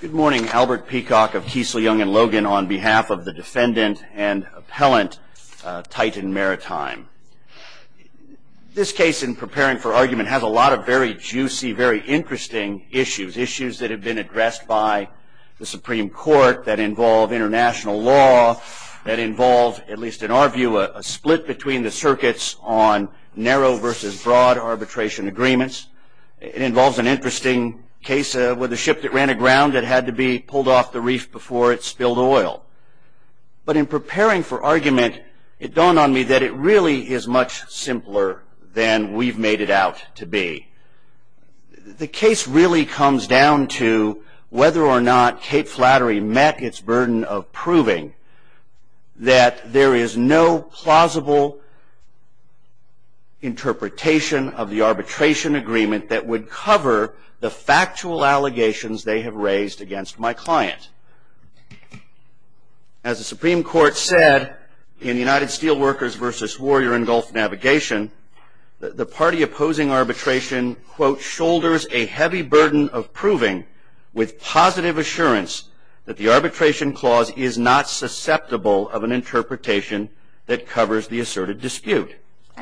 Good morning, Albert Peacock of Kiesel, Young & Logan on behalf of the defendant and appellant Titan Maritime. This case in preparing for argument has a lot of very juicy, very interesting issues. Issues that have been addressed by the Supreme Court that involve international law, that involve, at least in our view, a split between the circuits on narrow versus broad arbitration agreements. It involves an interesting case where the ship that ran aground, it had to be pulled off the reef before it spilled oil. But in preparing for argument, it dawned on me that it really is much simpler than we've made it out to be. The case really comes down to whether or not Cape Flattery met its burden of proving that there is no plausible interpretation of the arbitration agreement that would cover the factual allegations they have raised against my client. As the Supreme Court said in United Steelworkers v. Warrior and Gulf Navigation, the party opposing arbitration, quote, shoulders a heavy burden of proving with positive assurance that the arbitration clause is not susceptible of an interpretation that covers the asserted dispute.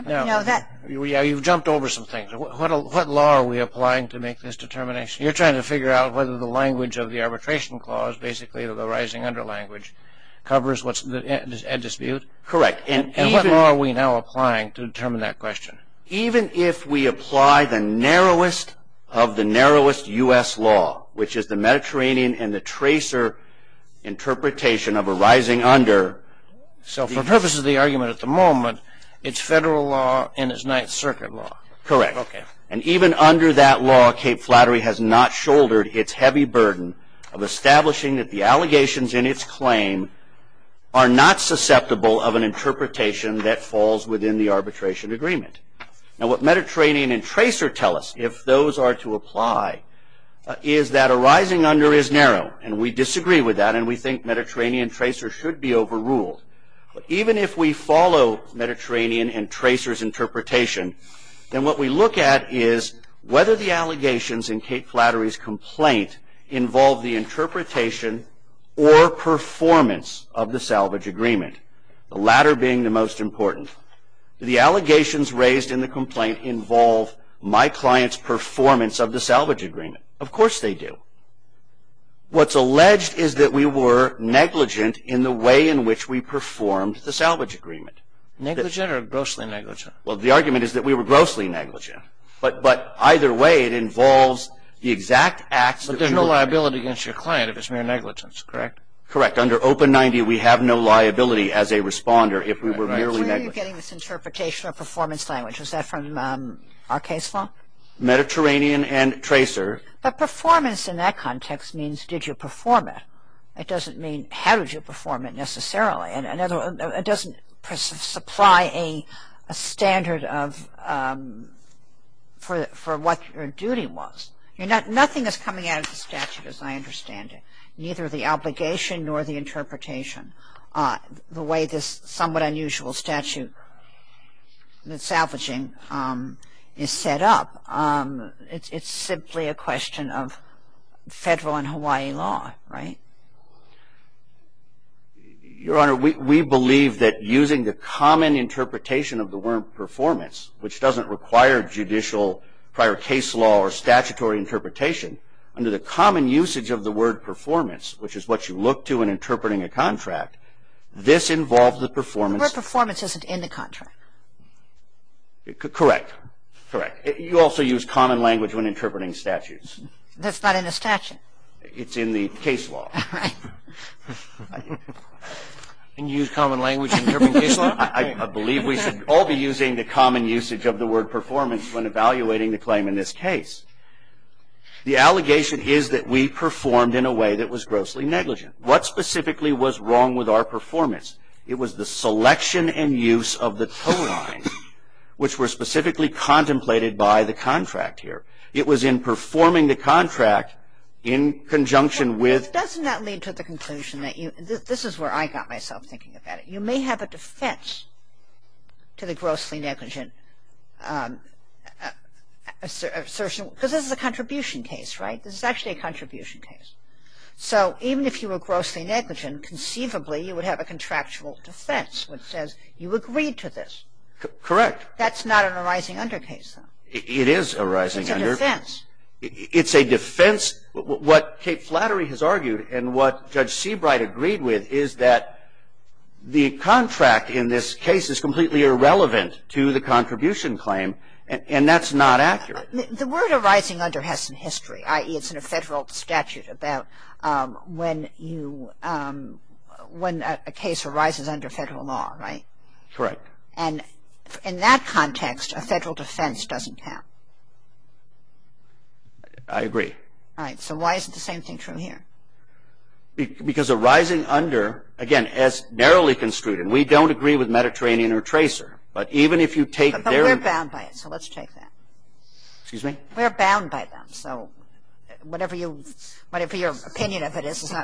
Now, you've jumped over some things. What law are we applying to make this determination? You're trying to figure out whether the language of the arbitration clause, basically the rising under language, covers what's at dispute? Correct. And what law are we now applying to determine that question? Even if we apply the narrowest of the narrowest U.S. law, which is the Mediterranean and the tracer interpretation of a rising under So, for purposes of the argument at the moment, it's federal law and it's Ninth Circuit law. Correct. And even under that law, Cape Flattery has not shouldered its heavy burden of establishing that the allegations in its claim are not susceptible of an interpretation that falls within the arbitration agreement. Now, what Mediterranean and tracer tell us, if those are to apply, is that a rising under is narrow, and we disagree with that, and we think that's a rule. But even if we follow Mediterranean and tracer's interpretation, then what we look at is whether the allegations in Cape Flattery's complaint involve the interpretation or performance of the salvage agreement, the latter being the most important. Do the allegations raised in the complaint involve my client's performance of the salvage agreement? Of course they do. What's alleged is that we were negligent in the way in which we performed the salvage agreement. Negligent or grossly negligent? Well, the argument is that we were grossly negligent. But either way, it involves the exact acts that we were But there's no liability against your client if it's mere negligence, correct? Correct. Under Open 90, we have no liability as a responder if we were merely negligent. Where are you getting this interpretation of performance language? Is that from our case law? Mediterranean and tracer But performance in that context means did you perform it? It doesn't mean how did you perform it necessarily. It doesn't supply a standard for what your duty was. Nothing is coming out of the statute as I understand it. Neither the obligation nor the interpretation. The way this somewhat unusual statute salvaging is set up, it's simply a question of federal and Hawaii law, right? Your Honor, we believe that using the common interpretation of the word performance, which doesn't require judicial prior case law or statutory interpretation, under the common usage of the word performance, which is what you look to in interpreting a contract, this involves the performance The word performance isn't in the contract. Correct. Correct. You also use common language when interpreting statutes. That's not in the statute. It's in the case law. Can you use common language in your case law? I believe we should all be using the common usage of the word performance when evaluating the claim in this case. The allegation is that we performed in a way that was grossly negligent. What specifically was wrong with our performance? It was the selection and use of the tone line, which were specifically contemplated by the contract here. It was in performing the contract in conjunction with Doesn't that lead to the conclusion that you This is where I got myself thinking about it. You may have a defense to the grossly negligent assertion because this is a contribution case, right? This is actually a contribution case. So even if you were grossly negligent, conceivably you would have a contractual defense which says you agreed to this. Correct. That's not an arising under case, though. It is arising under. It's a defense. It's a defense. What Kate Flattery has argued and what Judge Seabright agreed with is that the contract in this case is completely irrelevant to the contribution claim and that's not accurate. The word arising under has some history, i.e., it's in a federal statute about when a case arises under federal law, right? Correct. And in that context, a federal defense doesn't count. I agree. All right. So why is the same thing true here? Because arising under, again, as narrowly construed and we don't agree with Mediterranean or Tracer, but even if you take But we're bound by it, so let's take that. Excuse me? We're bound by them, so whatever your opinion of it is,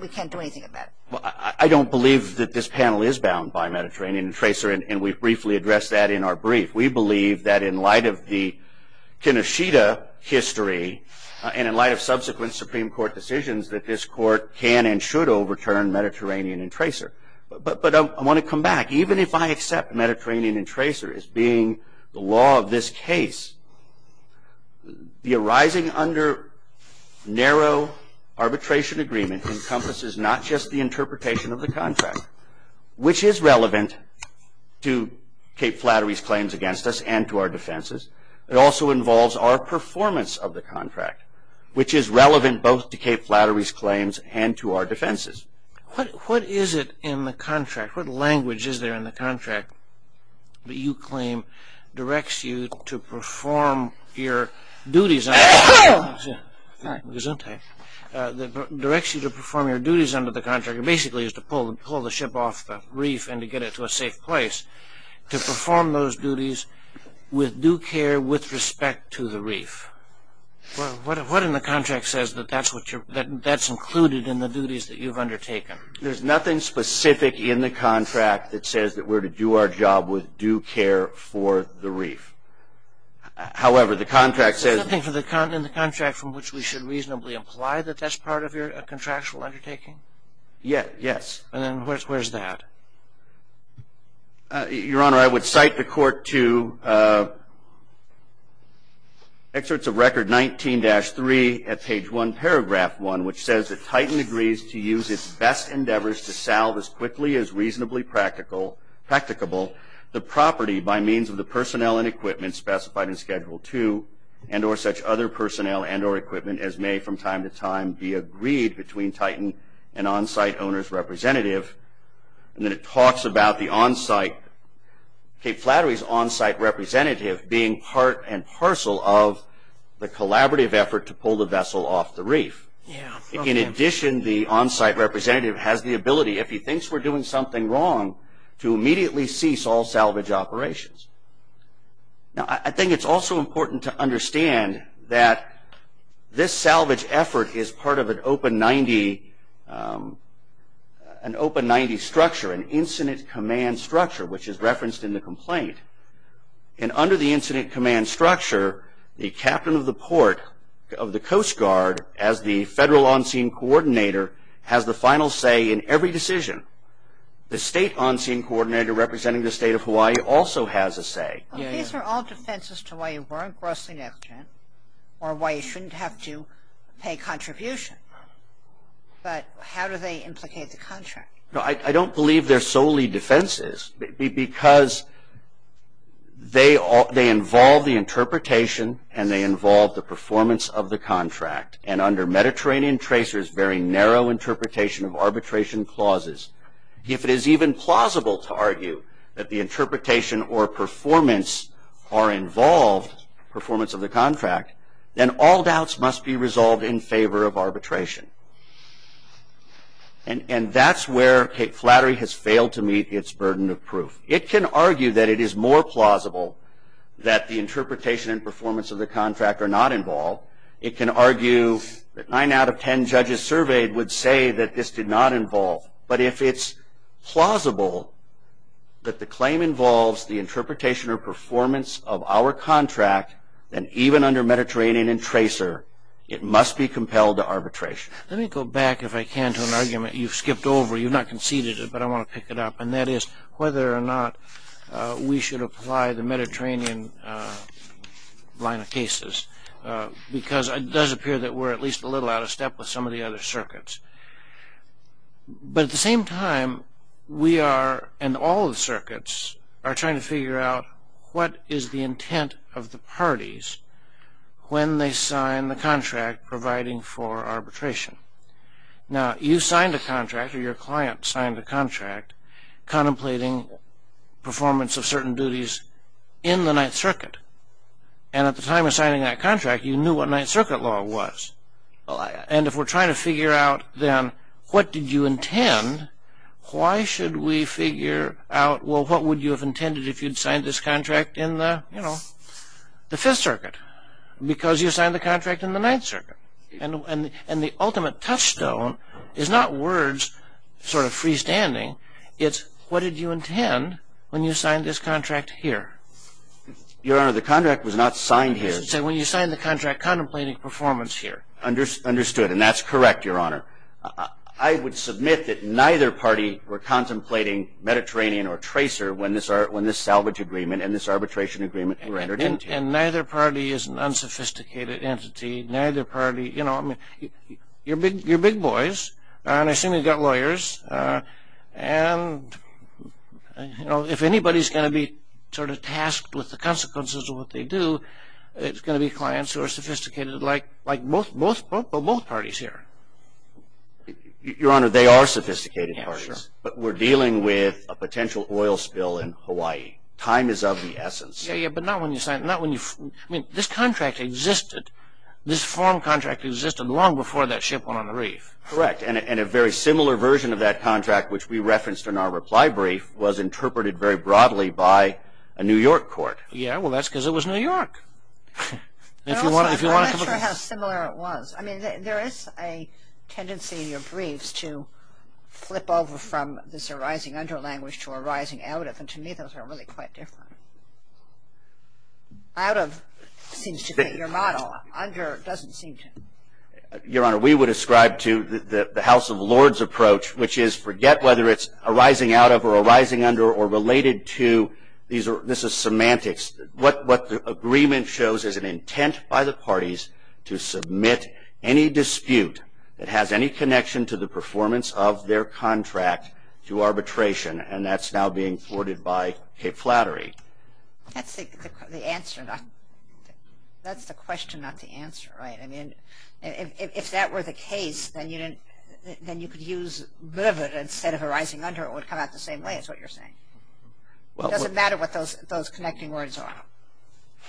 we can't do anything about it. I don't believe that this panel is bound by Mediterranean and Tracer, and we briefly addressed that in our brief. We believe that in light of the Kenoshita history and in light of subsequent Supreme Court decisions, that this Court can and should overturn Mediterranean and Tracer. But I want to come back. Even if I accept Mediterranean and Tracer as being the law of this case, the arising under narrow arbitration agreement encompasses not just the interpretation of the contract, which is relevant to Cape Flattery's claims against us and to our defenses. It also involves our performance of the contract, which is relevant both to Cape Flattery's claims and to our defenses. What is it in the contract? What language is there in the contract that you claim directs you to perform your duties under the contract? It basically is to pull the ship off the reef and to get it to a safe place, to perform those duties with due care, with respect to the reef. What in the contract says that that's included in the duties that you've undertaken? There's nothing specific in the contract that says that we're to do our job with due care for the reef. However, the contract says... Is there something in the contract from which we should reasonably imply that that's part of your contractual undertaking? Yes. And then where's that? Your Honor, I would cite the court to excerpts of Record 19-3 at page 1, paragraph 1, which says that Titan agrees to use its best endeavors to salve as quickly as reasonably practicable the property by means of the personnel and equipment specified in Schedule 2 and or such other personnel and or equipment as may from time to time be agreed between Titan and on-site owner's representative. And then it talks about the Cape Flattery's on-site representative being part and parcel of the collaborative effort to pull the vessel off the reef. In addition, the on-site representative has the ability, if he thinks we're doing something wrong, to immediately cease all salvage operations. I think it's also important to understand that this salvage effort is part of an OPA 90 structure, an Incident Command Structure, which is referenced in the complaint. And under the Incident Command Structure, the captain of the port of the Coast Guard as the federal on-scene coordinator has the final say in every decision. The state on-scene coordinator representing the state of Hawaii also has a say. These are all defenses to why you weren't grossly negligent or why you shouldn't have to pay contribution. But how do they implicate the contract? I don't believe they're solely defenses because they involve the interpretation and they involve the performance of the contract. And under Mediterranean Tracer's very narrow interpretation of arbitration clauses, if it is even plausible to argue that the interpretation or performance are involved in the performance of the contract, then all doubts must be resolved in favor of arbitration. And that's where Cape Flattery has failed to meet its burden of proof. It can argue that it is more plausible that the interpretation and performance of the contract are not involved. It can argue that 9 out of 10 judges surveyed would say that this did not involve. But if it's plausible that the claim involves the interpretation or performance of our contract, then even under Mediterranean and Tracer, it must be compelled to arbitration. Let me go back, if I can, to an argument you've skipped over. You've not conceded it, but I want to pick it up. And that is whether or not we should apply the Mediterranean line of cases because it does appear that we're at least a little out of step with some of the other circuits. But at the same time, we are, and all the circuits, are trying to figure out what is the intent of the parties when they sign the contract providing for arbitration. Now, you signed a contract, or your client signed a contract, contemplating performance of certain duties in the Ninth Circuit. And at the time of signing that contract, you knew what Ninth Circuit law was. And if we're trying to figure out, then, what did you intend, why should we figure out, well, what would you have intended if you'd signed this contract in the Fifth Circuit? Because you signed the contract in the Ninth Circuit. And the ultimate touchstone is not words sort of freestanding. It's what did you intend when you signed this contract here? Your Honor, the contract was not signed here. So when you signed the contract contemplating performance here. Understood, and that's correct, Your Honor. I would submit that neither party were contemplating Mediterranean or Tracer when this salvage agreement and this arbitration agreement were entered into. And neither party is an unsophisticated entity. Neither party, you know, I mean, you're big boys, and I assume you've got lawyers. And, you know, if anybody's going to be sort of tasked with the consequences of what they do, it's going to be clients who are sophisticated like both parties here. Your Honor, they are sophisticated parties. Yeah, sure. But we're dealing with a potential oil spill in Hawaii. Time is of the essence. Yeah, yeah, but not when you sign, not when you, I mean, this contract existed, this form contract existed long before that ship went on the reef. Correct, and a very similar version of that contract, which we referenced in our reply brief, was interpreted very broadly by a New York court. Yeah, well, that's because it was New York. I'm not sure how similar it was. I mean, there is a tendency in your briefs to flip over from this arising under language to arising out of, and to me those are really quite different. Out of seems to fit your model. Under doesn't seem to. Your Honor, we would ascribe to the House of Lords approach, which is forget whether it's arising out of or arising under or related to. This is semantics. What the agreement shows is an intent by the parties to submit any dispute that has any connection to the performance of their contract to arbitration, and that's now being thwarted by cape flattery. That's the question, not the answer, right? I mean, if that were the case, then you could use livid instead of arising under. It would come out the same way is what you're saying. It doesn't matter what those connecting words are.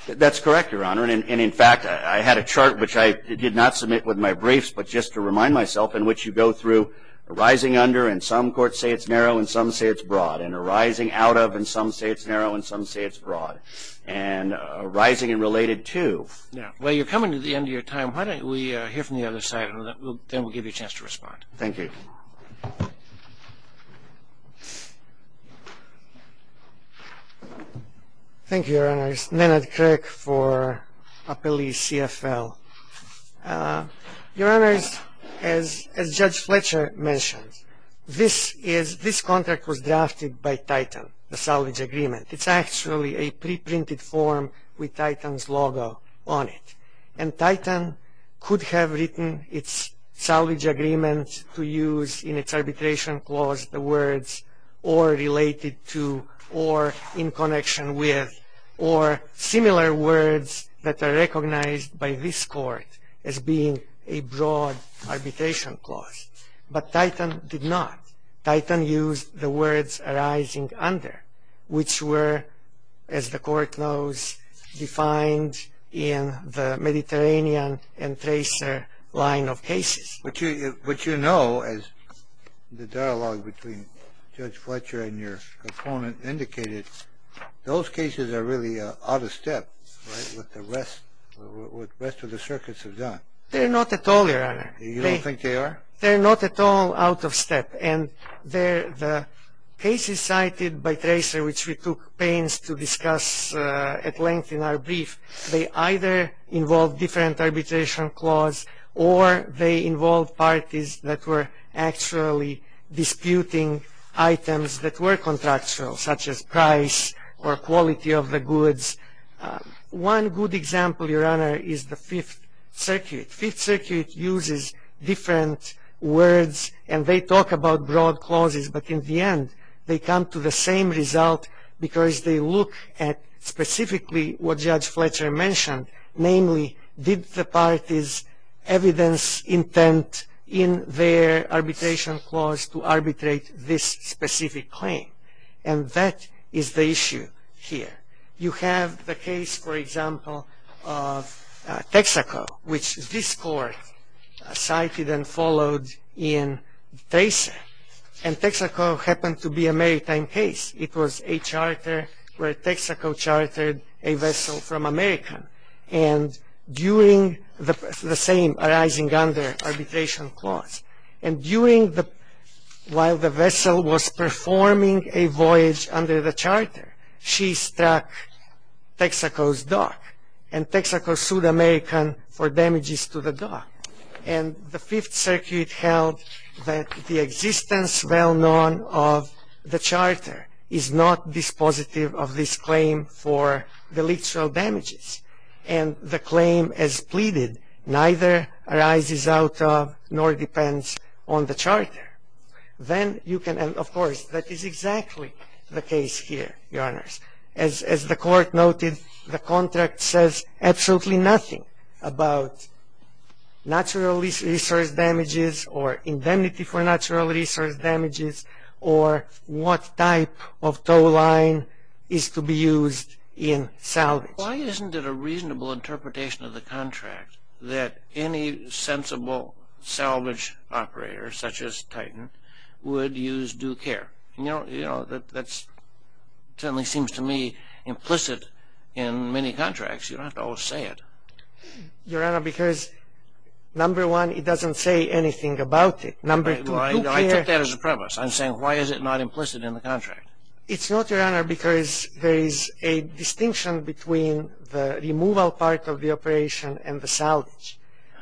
That's correct, Your Honor, and in fact, I had a chart, which I did not submit with my briefs, but just to remind myself, in which you go through arising under, and some courts say it's narrow, and some say it's broad, and arising out of, and some say it's narrow, and some say it's broad, and arising and related to. Now, while you're coming to the end of your time, why don't we hear from the other side, and then we'll give you a chance to respond. Thank you. Thank you, Your Honors. Nenad Crick for Appellee CFL. Your Honors, as Judge Fletcher mentioned, this contract was drafted by Titan, the salvage agreement. It's actually a preprinted form with Titan's logo on it, and Titan could have written its salvage agreement to use in its arbitration clause the words arising under, or related to, or in connection with, or similar words that are recognized by this court as being a broad arbitration clause. But Titan did not. Titan used the words arising under, which were, as the court knows, defined in the Mediterranean and tracer line of cases. But you know, as the dialogue between Judge Fletcher and your opponent indicated, those cases are really out of step with what the rest of the circuits have done. They're not at all, Your Honor. You don't think they are? They're not at all out of step, and the cases cited by tracer, which we took pains to discuss at length in our brief, they either involve different arbitration clause, or they involve parties that were actually disputing items that were contractual, such as price or quality of the goods. One good example, Your Honor, is the Fifth Circuit. Fifth Circuit uses different words, and they talk about broad clauses, but in the end, they come to the same result, because they look at specifically what Judge Fletcher mentioned, namely, did the parties evidence intent in their arbitration clause to arbitrate this specific claim? And that is the issue here. You have the case, for example, of Texaco, which this court cited and followed in tracer. And Texaco happened to be a maritime case. It was a charter where Texaco chartered a vessel from America, and during the same arising under arbitration clause, and while the vessel was performing a voyage under the charter, she struck Texaco's dock, and Texaco sued American for damages to the dock. And the Fifth Circuit held that the existence well known of the charter is not dispositive of this claim for deleterial damages, and the claim as pleaded neither arises out of nor depends on the charter. Then you can, of course, that is exactly the case here, Your Honors. As the court noted, the contract says absolutely nothing about natural resource damages or indemnity for natural resource damages or what type of tow line is to be used in salvage. Why isn't it a reasonable interpretation of the contract that any sensible salvage operator, such as Titan, would use due care? You know, that certainly seems to me implicit in many contracts. You don't have to always say it. Your Honor, because number one, it doesn't say anything about it. I took that as a premise. I'm saying why is it not implicit in the contract? It's not, Your Honor, because there is a distinction between the removal part of the operation and the salvage.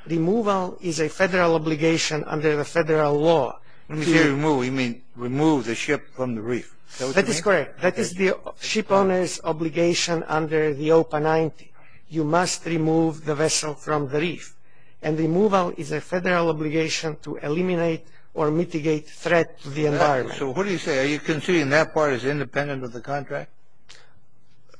Removal is a federal obligation under the federal law. When you say remove, you mean remove the ship from the reef. That is correct. That is the ship owner's obligation under the OPA 90. You must remove the vessel from the reef, and removal is a federal obligation to eliminate or mitigate threat to the environment. So what do you say? Are you considering that part as independent of the contract?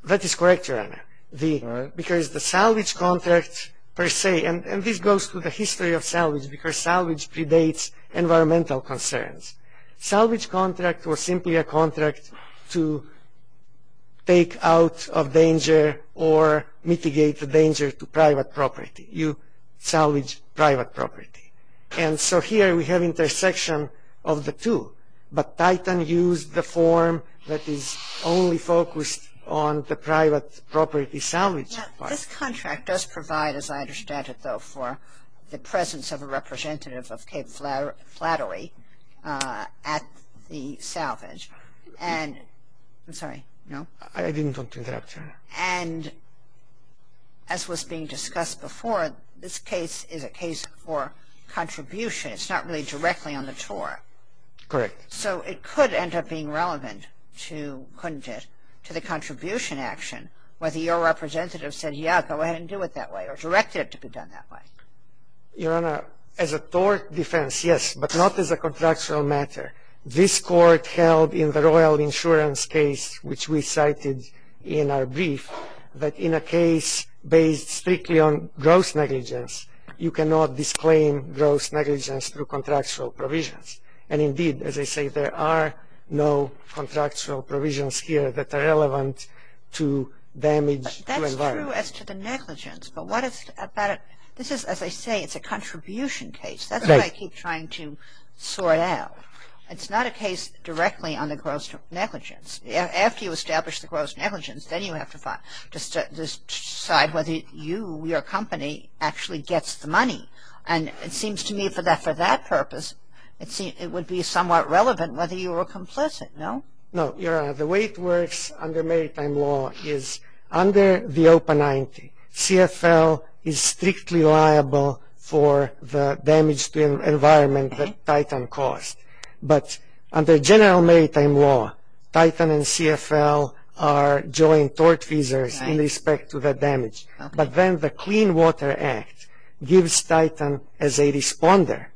That is correct, Your Honor, because the salvage contract per se, and this goes through the history of salvage because salvage predates environmental concerns. Salvage contract was simply a contract to take out of danger or mitigate the danger to private property. You salvage private property. And so here we have intersection of the two, but Titan used the form that is only focused on the private property salvage part. This contract does provide, as I understand it, though, for the presence of a representative of Cape Flattery at the salvage. And I'm sorry, no? I didn't want to interrupt, Your Honor. And as was being discussed before, this case is a case for contribution. It's not really directly on the tour. Correct. So it could end up being relevant to, couldn't it, to the contribution action, whether your representative said, yeah, go ahead and do it that way or directed it to be done that way? Your Honor, as a tort defense, yes, but not as a contractual matter. This court held in the Royal Insurance case, which we cited in our brief, that in a case based strictly on gross negligence, you cannot disclaim gross negligence through contractual provisions. And indeed, as I say, there are no contractual provisions here that are relevant to damage to environment. That's true as to the negligence, but what about, this is, as I say, it's a contribution case. That's what I keep trying to sort out. It's not a case directly on the gross negligence. After you establish the gross negligence, then you have to decide whether you, your company, actually gets the money. And it seems to me for that purpose, it would be somewhat relevant whether you were complicit, no? No, Your Honor. The way it works under maritime law is under the OPA 90, CFL is strictly liable for the damage to environment that Titan caused. But under general maritime law, Titan and CFL are joint tortfeasors in respect to the damage. But then the Clean Water Act gives Titan, as a responder,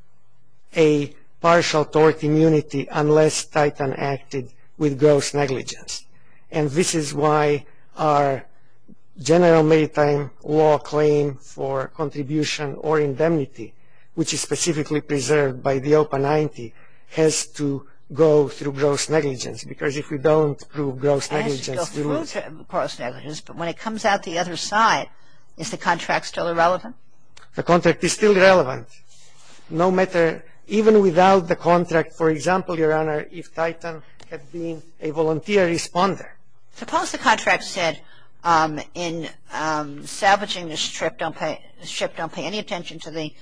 a partial tort immunity unless Titan acted with gross negligence. And this is why our general maritime law claim for contribution or indemnity, which is specifically preserved by the OPA 90, has to go through gross negligence. Because if we don't prove gross negligence, we lose. But when it comes out the other side, is the contract still irrelevant? The contract is still relevant. No matter, even without the contract, for example, Your Honor, if Titan had been a volunteer responder. Suppose the contract said in salvaging this ship, don't pay any attention to the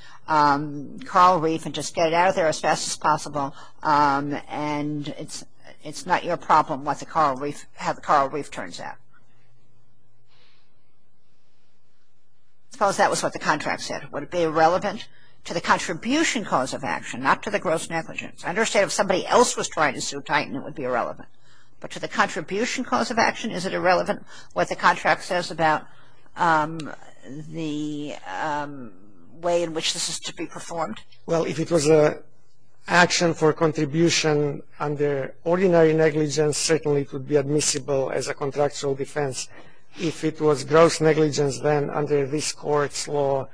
coral reef and just get it out of there as fast as possible and it's not your problem how the coral reef turns out. Suppose that was what the contract said. Would it be irrelevant to the contribution cause of action, not to the gross negligence? I understand if somebody else was trying to sue Titan, it would be irrelevant. But to the contribution cause of action, is it irrelevant what the contract says about the way in which this is to be performed? Well, if it was an action for contribution under ordinary negligence, certainly it would be admissible as a contractual defense. If it was gross negligence, then under this Court's law,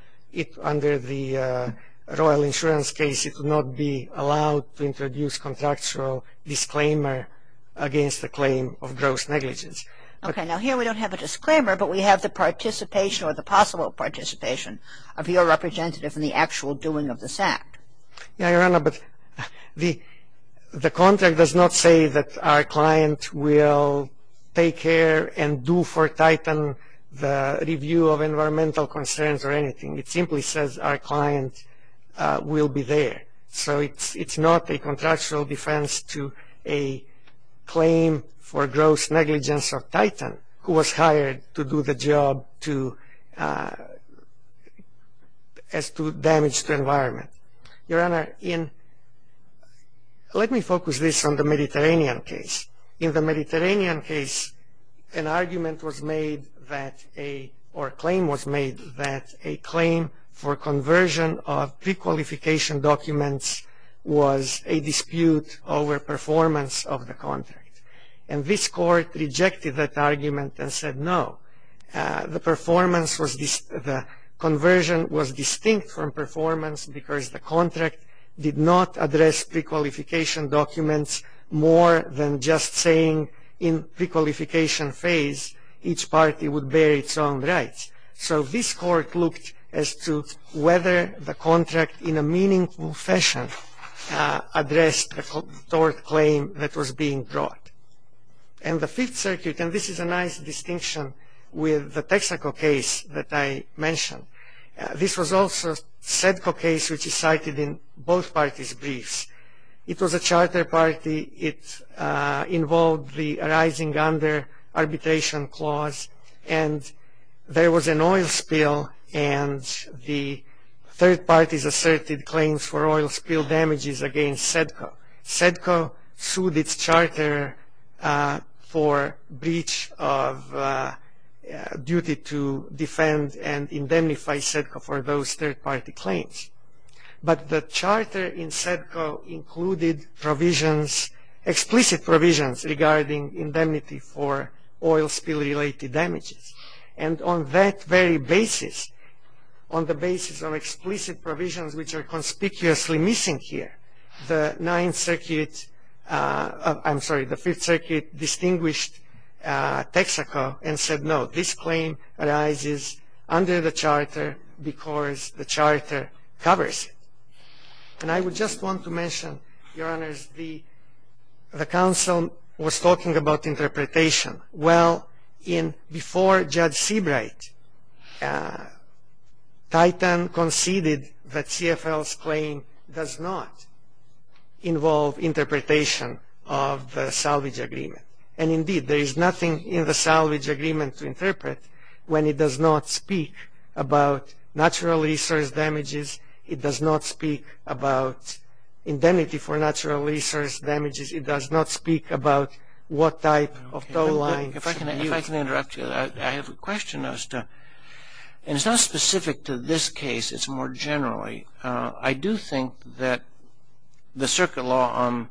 under the Royal Insurance case, it would not be allowed to introduce contractual disclaimer against the claim of gross negligence. Okay, now here we don't have a disclaimer, but we have the participation or the possible participation of your representative in the actual doing of this act. Yeah, Your Honor, but the contract does not say that our client will take care and do for Titan the review of environmental concerns or anything. It simply says our client will be there. So, it's not a contractual defense to a claim for gross negligence of Titan who was hired to do the job as to damage to environment. Your Honor, let me focus this on the Mediterranean case. In the Mediterranean case, an argument was made or a claim was made that a claim for conversion of pre-qualification documents was a dispute over performance of the contract. And this Court rejected that argument and said no. The conversion was distinct from performance because the contract did not address pre-qualification documents more than just saying in pre-qualification phase each party would bear its own rights. So, this Court looked as to whether the contract in a meaningful fashion addressed a tort claim that was being brought. And the Fifth Circuit, and this is a nice distinction with the Texaco case that I mentioned, this was also a SEDCO case which is cited in both parties' briefs. It was a charter party. It involved the arising under arbitration clause, and there was an oil spill, and the third parties asserted claims for oil spill damages against SEDCO. SEDCO sued its charter for breach of duty to defend and indemnify SEDCO for those third-party claims. But the charter in SEDCO included provisions, explicit provisions regarding indemnity for oil spill-related damages. And on that very basis, on the basis of explicit provisions which are conspicuously missing here, the Fifth Circuit distinguished Texaco and said, no, this claim arises under the charter because the charter covers it. And I would just want to mention, Your Honors, the counsel was talking about interpretation. Well, before Judge Seabright, Titan conceded that CFL's claim does not involve interpretation of the salvage agreement. And indeed, there is nothing in the salvage agreement to interpret when it does not speak about natural resource damages. It does not speak about indemnity for natural resource damages. It does not speak about what type of toll lines. If I can interrupt you, I have a question. And it's not specific to this case. It's more generally. I do think that the circuit law on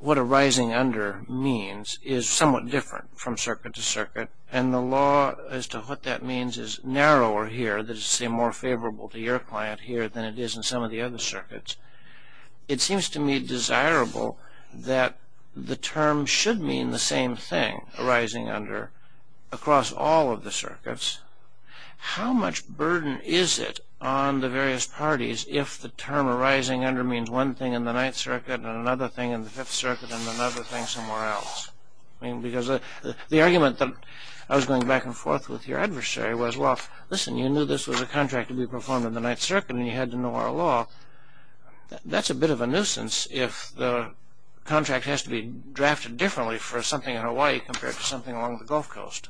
what arising under means is somewhat different from circuit to circuit, and the law as to what that means is narrower here, that is to say more favorable to your client here than it is in some of the other circuits. It seems to me desirable that the term should mean the same thing, arising under, across all of the circuits. How much burden is it on the various parties if the term arising under means one thing in the Ninth Circuit and another thing in the Fifth Circuit and another thing somewhere else? I mean, because the argument that I was going back and forth with your adversary was, well, listen, you knew this was a contract to be performed in the Ninth Circuit and you had to know our law. That's a bit of a nuisance if the contract has to be drafted differently for something in Hawaii compared to something along the Gulf Coast.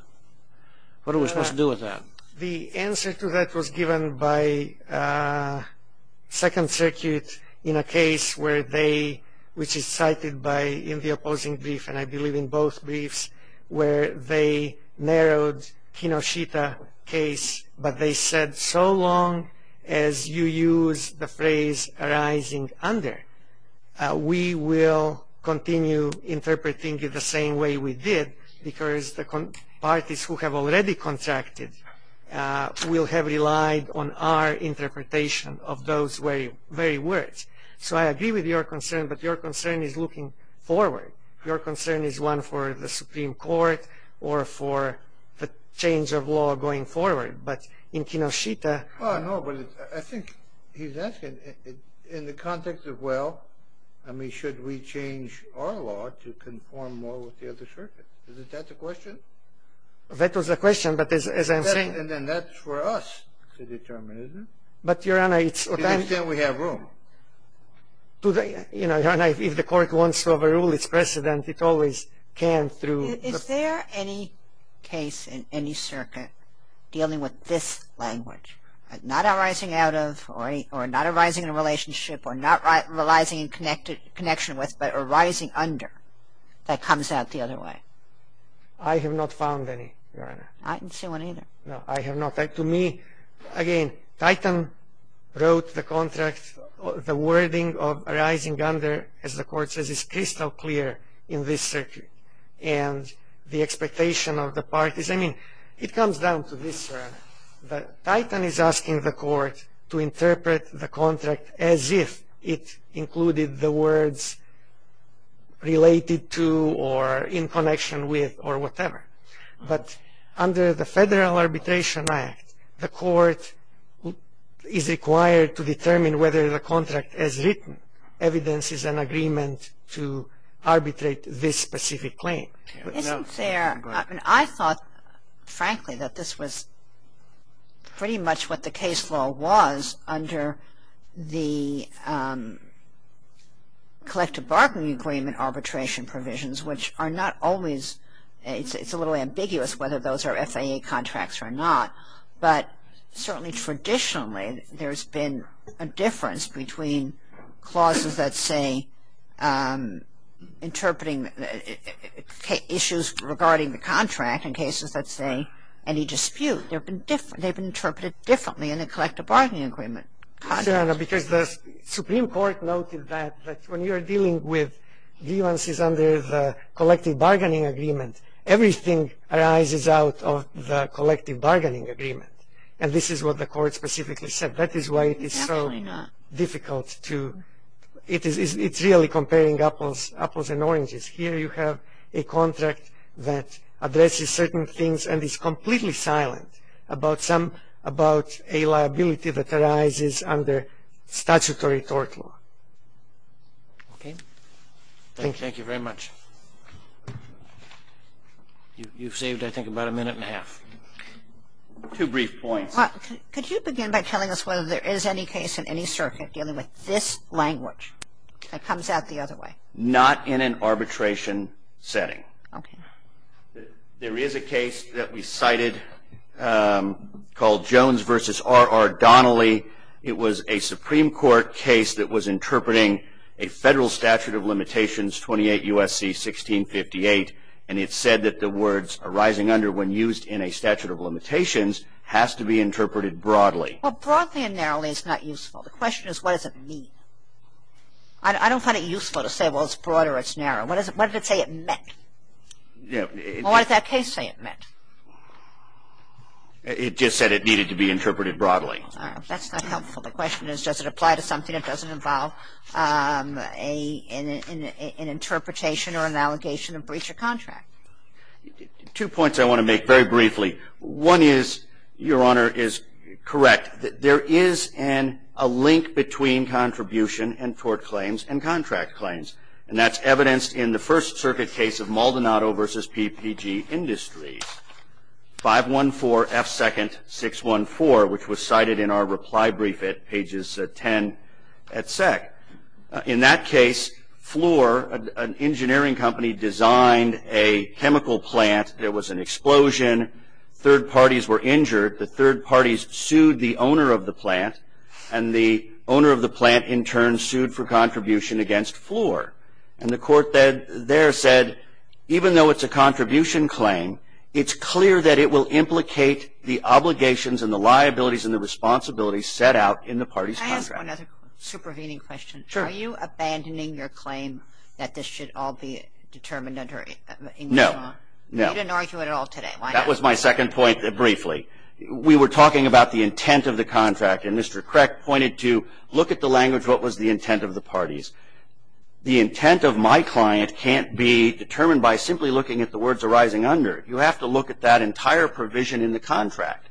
What are we supposed to do with that? The answer to that was given by Second Circuit in a case where they, which is cited in the opposing brief, and I believe in both briefs, where they narrowed Kinoshita case, but they said so long as you use the phrase arising under, we will continue interpreting it the same way we did because the parties who have already contracted will have relied on our interpretation of those very words. So I agree with your concern, but your concern is looking forward. Your concern is one for the Supreme Court or for the change of law going forward. But in Kinoshita... Well, no, but I think he's asking in the context of, well, I mean, should we change our law to conform more with the other circuit? Isn't that the question? That was the question, but as I'm saying... And then that's for us to determine, isn't it? But, Your Honor, it's... To the extent we have room. You know, Your Honor, if the court wants to overrule its precedent, it always can through... Is there any case in any circuit dealing with this language, not arising out of or not arising in a relationship or not arising in connection with, but arising under that comes out the other way? I have not found any, Your Honor. I didn't see one either. No, I have not. To me, again, Titan wrote the contract, the wording of arising under, as the court says, is crystal clear in this circuit. And the expectation of the parties, I mean, it comes down to this, Your Honor, that Titan is asking the court to interpret the contract as if it included the words related to or in connection with or whatever. But under the Federal Arbitration Act, the court is required to determine whether the contract is written. Evidence is an agreement to arbitrate this specific claim. Isn't there... I thought, frankly, that this was pretty much what the case law was under the collective bargaining agreement arbitration provisions, which are not always... it's a little ambiguous whether those are FAA contracts or not, but certainly traditionally there's been a difference between clauses that say interpreting issues regarding the contract in cases that say any dispute. They've been interpreted differently in the collective bargaining agreement. Because the Supreme Court noted that when you're dealing with grievances under the collective bargaining agreement, everything arises out of the collective bargaining agreement. And this is what the court specifically said. That is why it is so difficult to... it's really comparing apples and oranges. Here you have a contract that addresses certain things and is completely silent about a liability that arises under statutory tort law. Okay? Thank you. Thank you very much. You've saved, I think, about a minute and a half. Two brief points. Could you begin by telling us whether there is any case in any circuit dealing with this language that comes out the other way? Not in an arbitration setting. Okay. There is a case that we cited called Jones v. R. R. Donnelly. It was a Supreme Court case that was interpreting a federal statute of limitations, 28 U.S.C. 1658, and it said that the words arising under when used in a statute of limitations has to be interpreted broadly. Well, broadly and narrowly is not useful. The question is what does it mean? I don't find it useful to say, well, it's broad or it's narrow. What does it say it meant? Well, what does that case say it meant? It just said it needed to be interpreted broadly. That's not helpful. The question is does it apply to something that doesn't involve an interpretation or an allegation of breach of contract? Two points I want to make very briefly. One is, Your Honor, is correct. There is a link between contribution and tort claims and contract claims, and that's evidenced in the First Circuit case of Maldonado v. PPG Industries, 514 F. 2nd. 614, which was cited in our reply brief at Pages 10 at SEC. In that case, Floor, an engineering company, designed a chemical plant. There was an explosion. Third parties were injured. The third parties sued the owner of the plant, and the owner of the plant in turn sued for contribution against Floor. And the court there said even though it's a contribution claim, it's clear that it will implicate the obligations and the liabilities and the responsibilities set out in the party's contract. Can I ask one other supervening question? Sure. Are you abandoning your claim that this should all be determined under English law? No. You didn't argue it at all today. Why not? That was my second point briefly. We were talking about the intent of the contract, and Mr. Creck pointed to look at the language, what was the intent of the parties. The intent of my client can't be determined by simply looking at the words arising under. You have to look at that entire provision in the contract,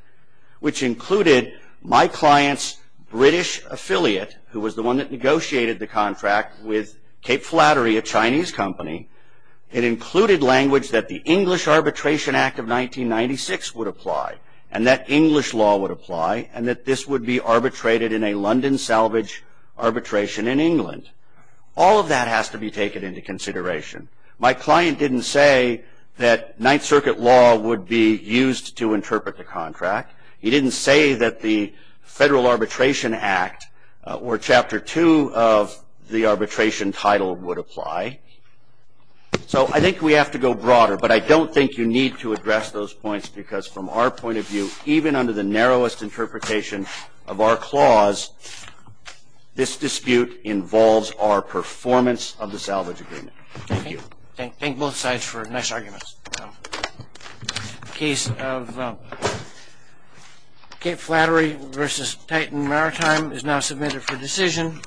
which included my client's British affiliate, who was the one that negotiated the contract with Cape Flattery, a Chinese company. It included language that the English Arbitration Act of 1996 would apply and that English law would apply and that this would be arbitrated in a London salvage arbitration in England. All of that has to be taken into consideration. My client didn't say that Ninth Circuit law would be used to interpret the contract. He didn't say that the Federal Arbitration Act or Chapter 2 of the arbitration title would apply. So I think we have to go broader, but I don't think you need to address those points because from our point of view, even under the narrowest interpretation of our clause, this dispute involves our performance of the salvage agreement. Thank you. Thank both sides for nice arguments. Case of Cape Flattery v. Titan Maritime is now submitted for decision.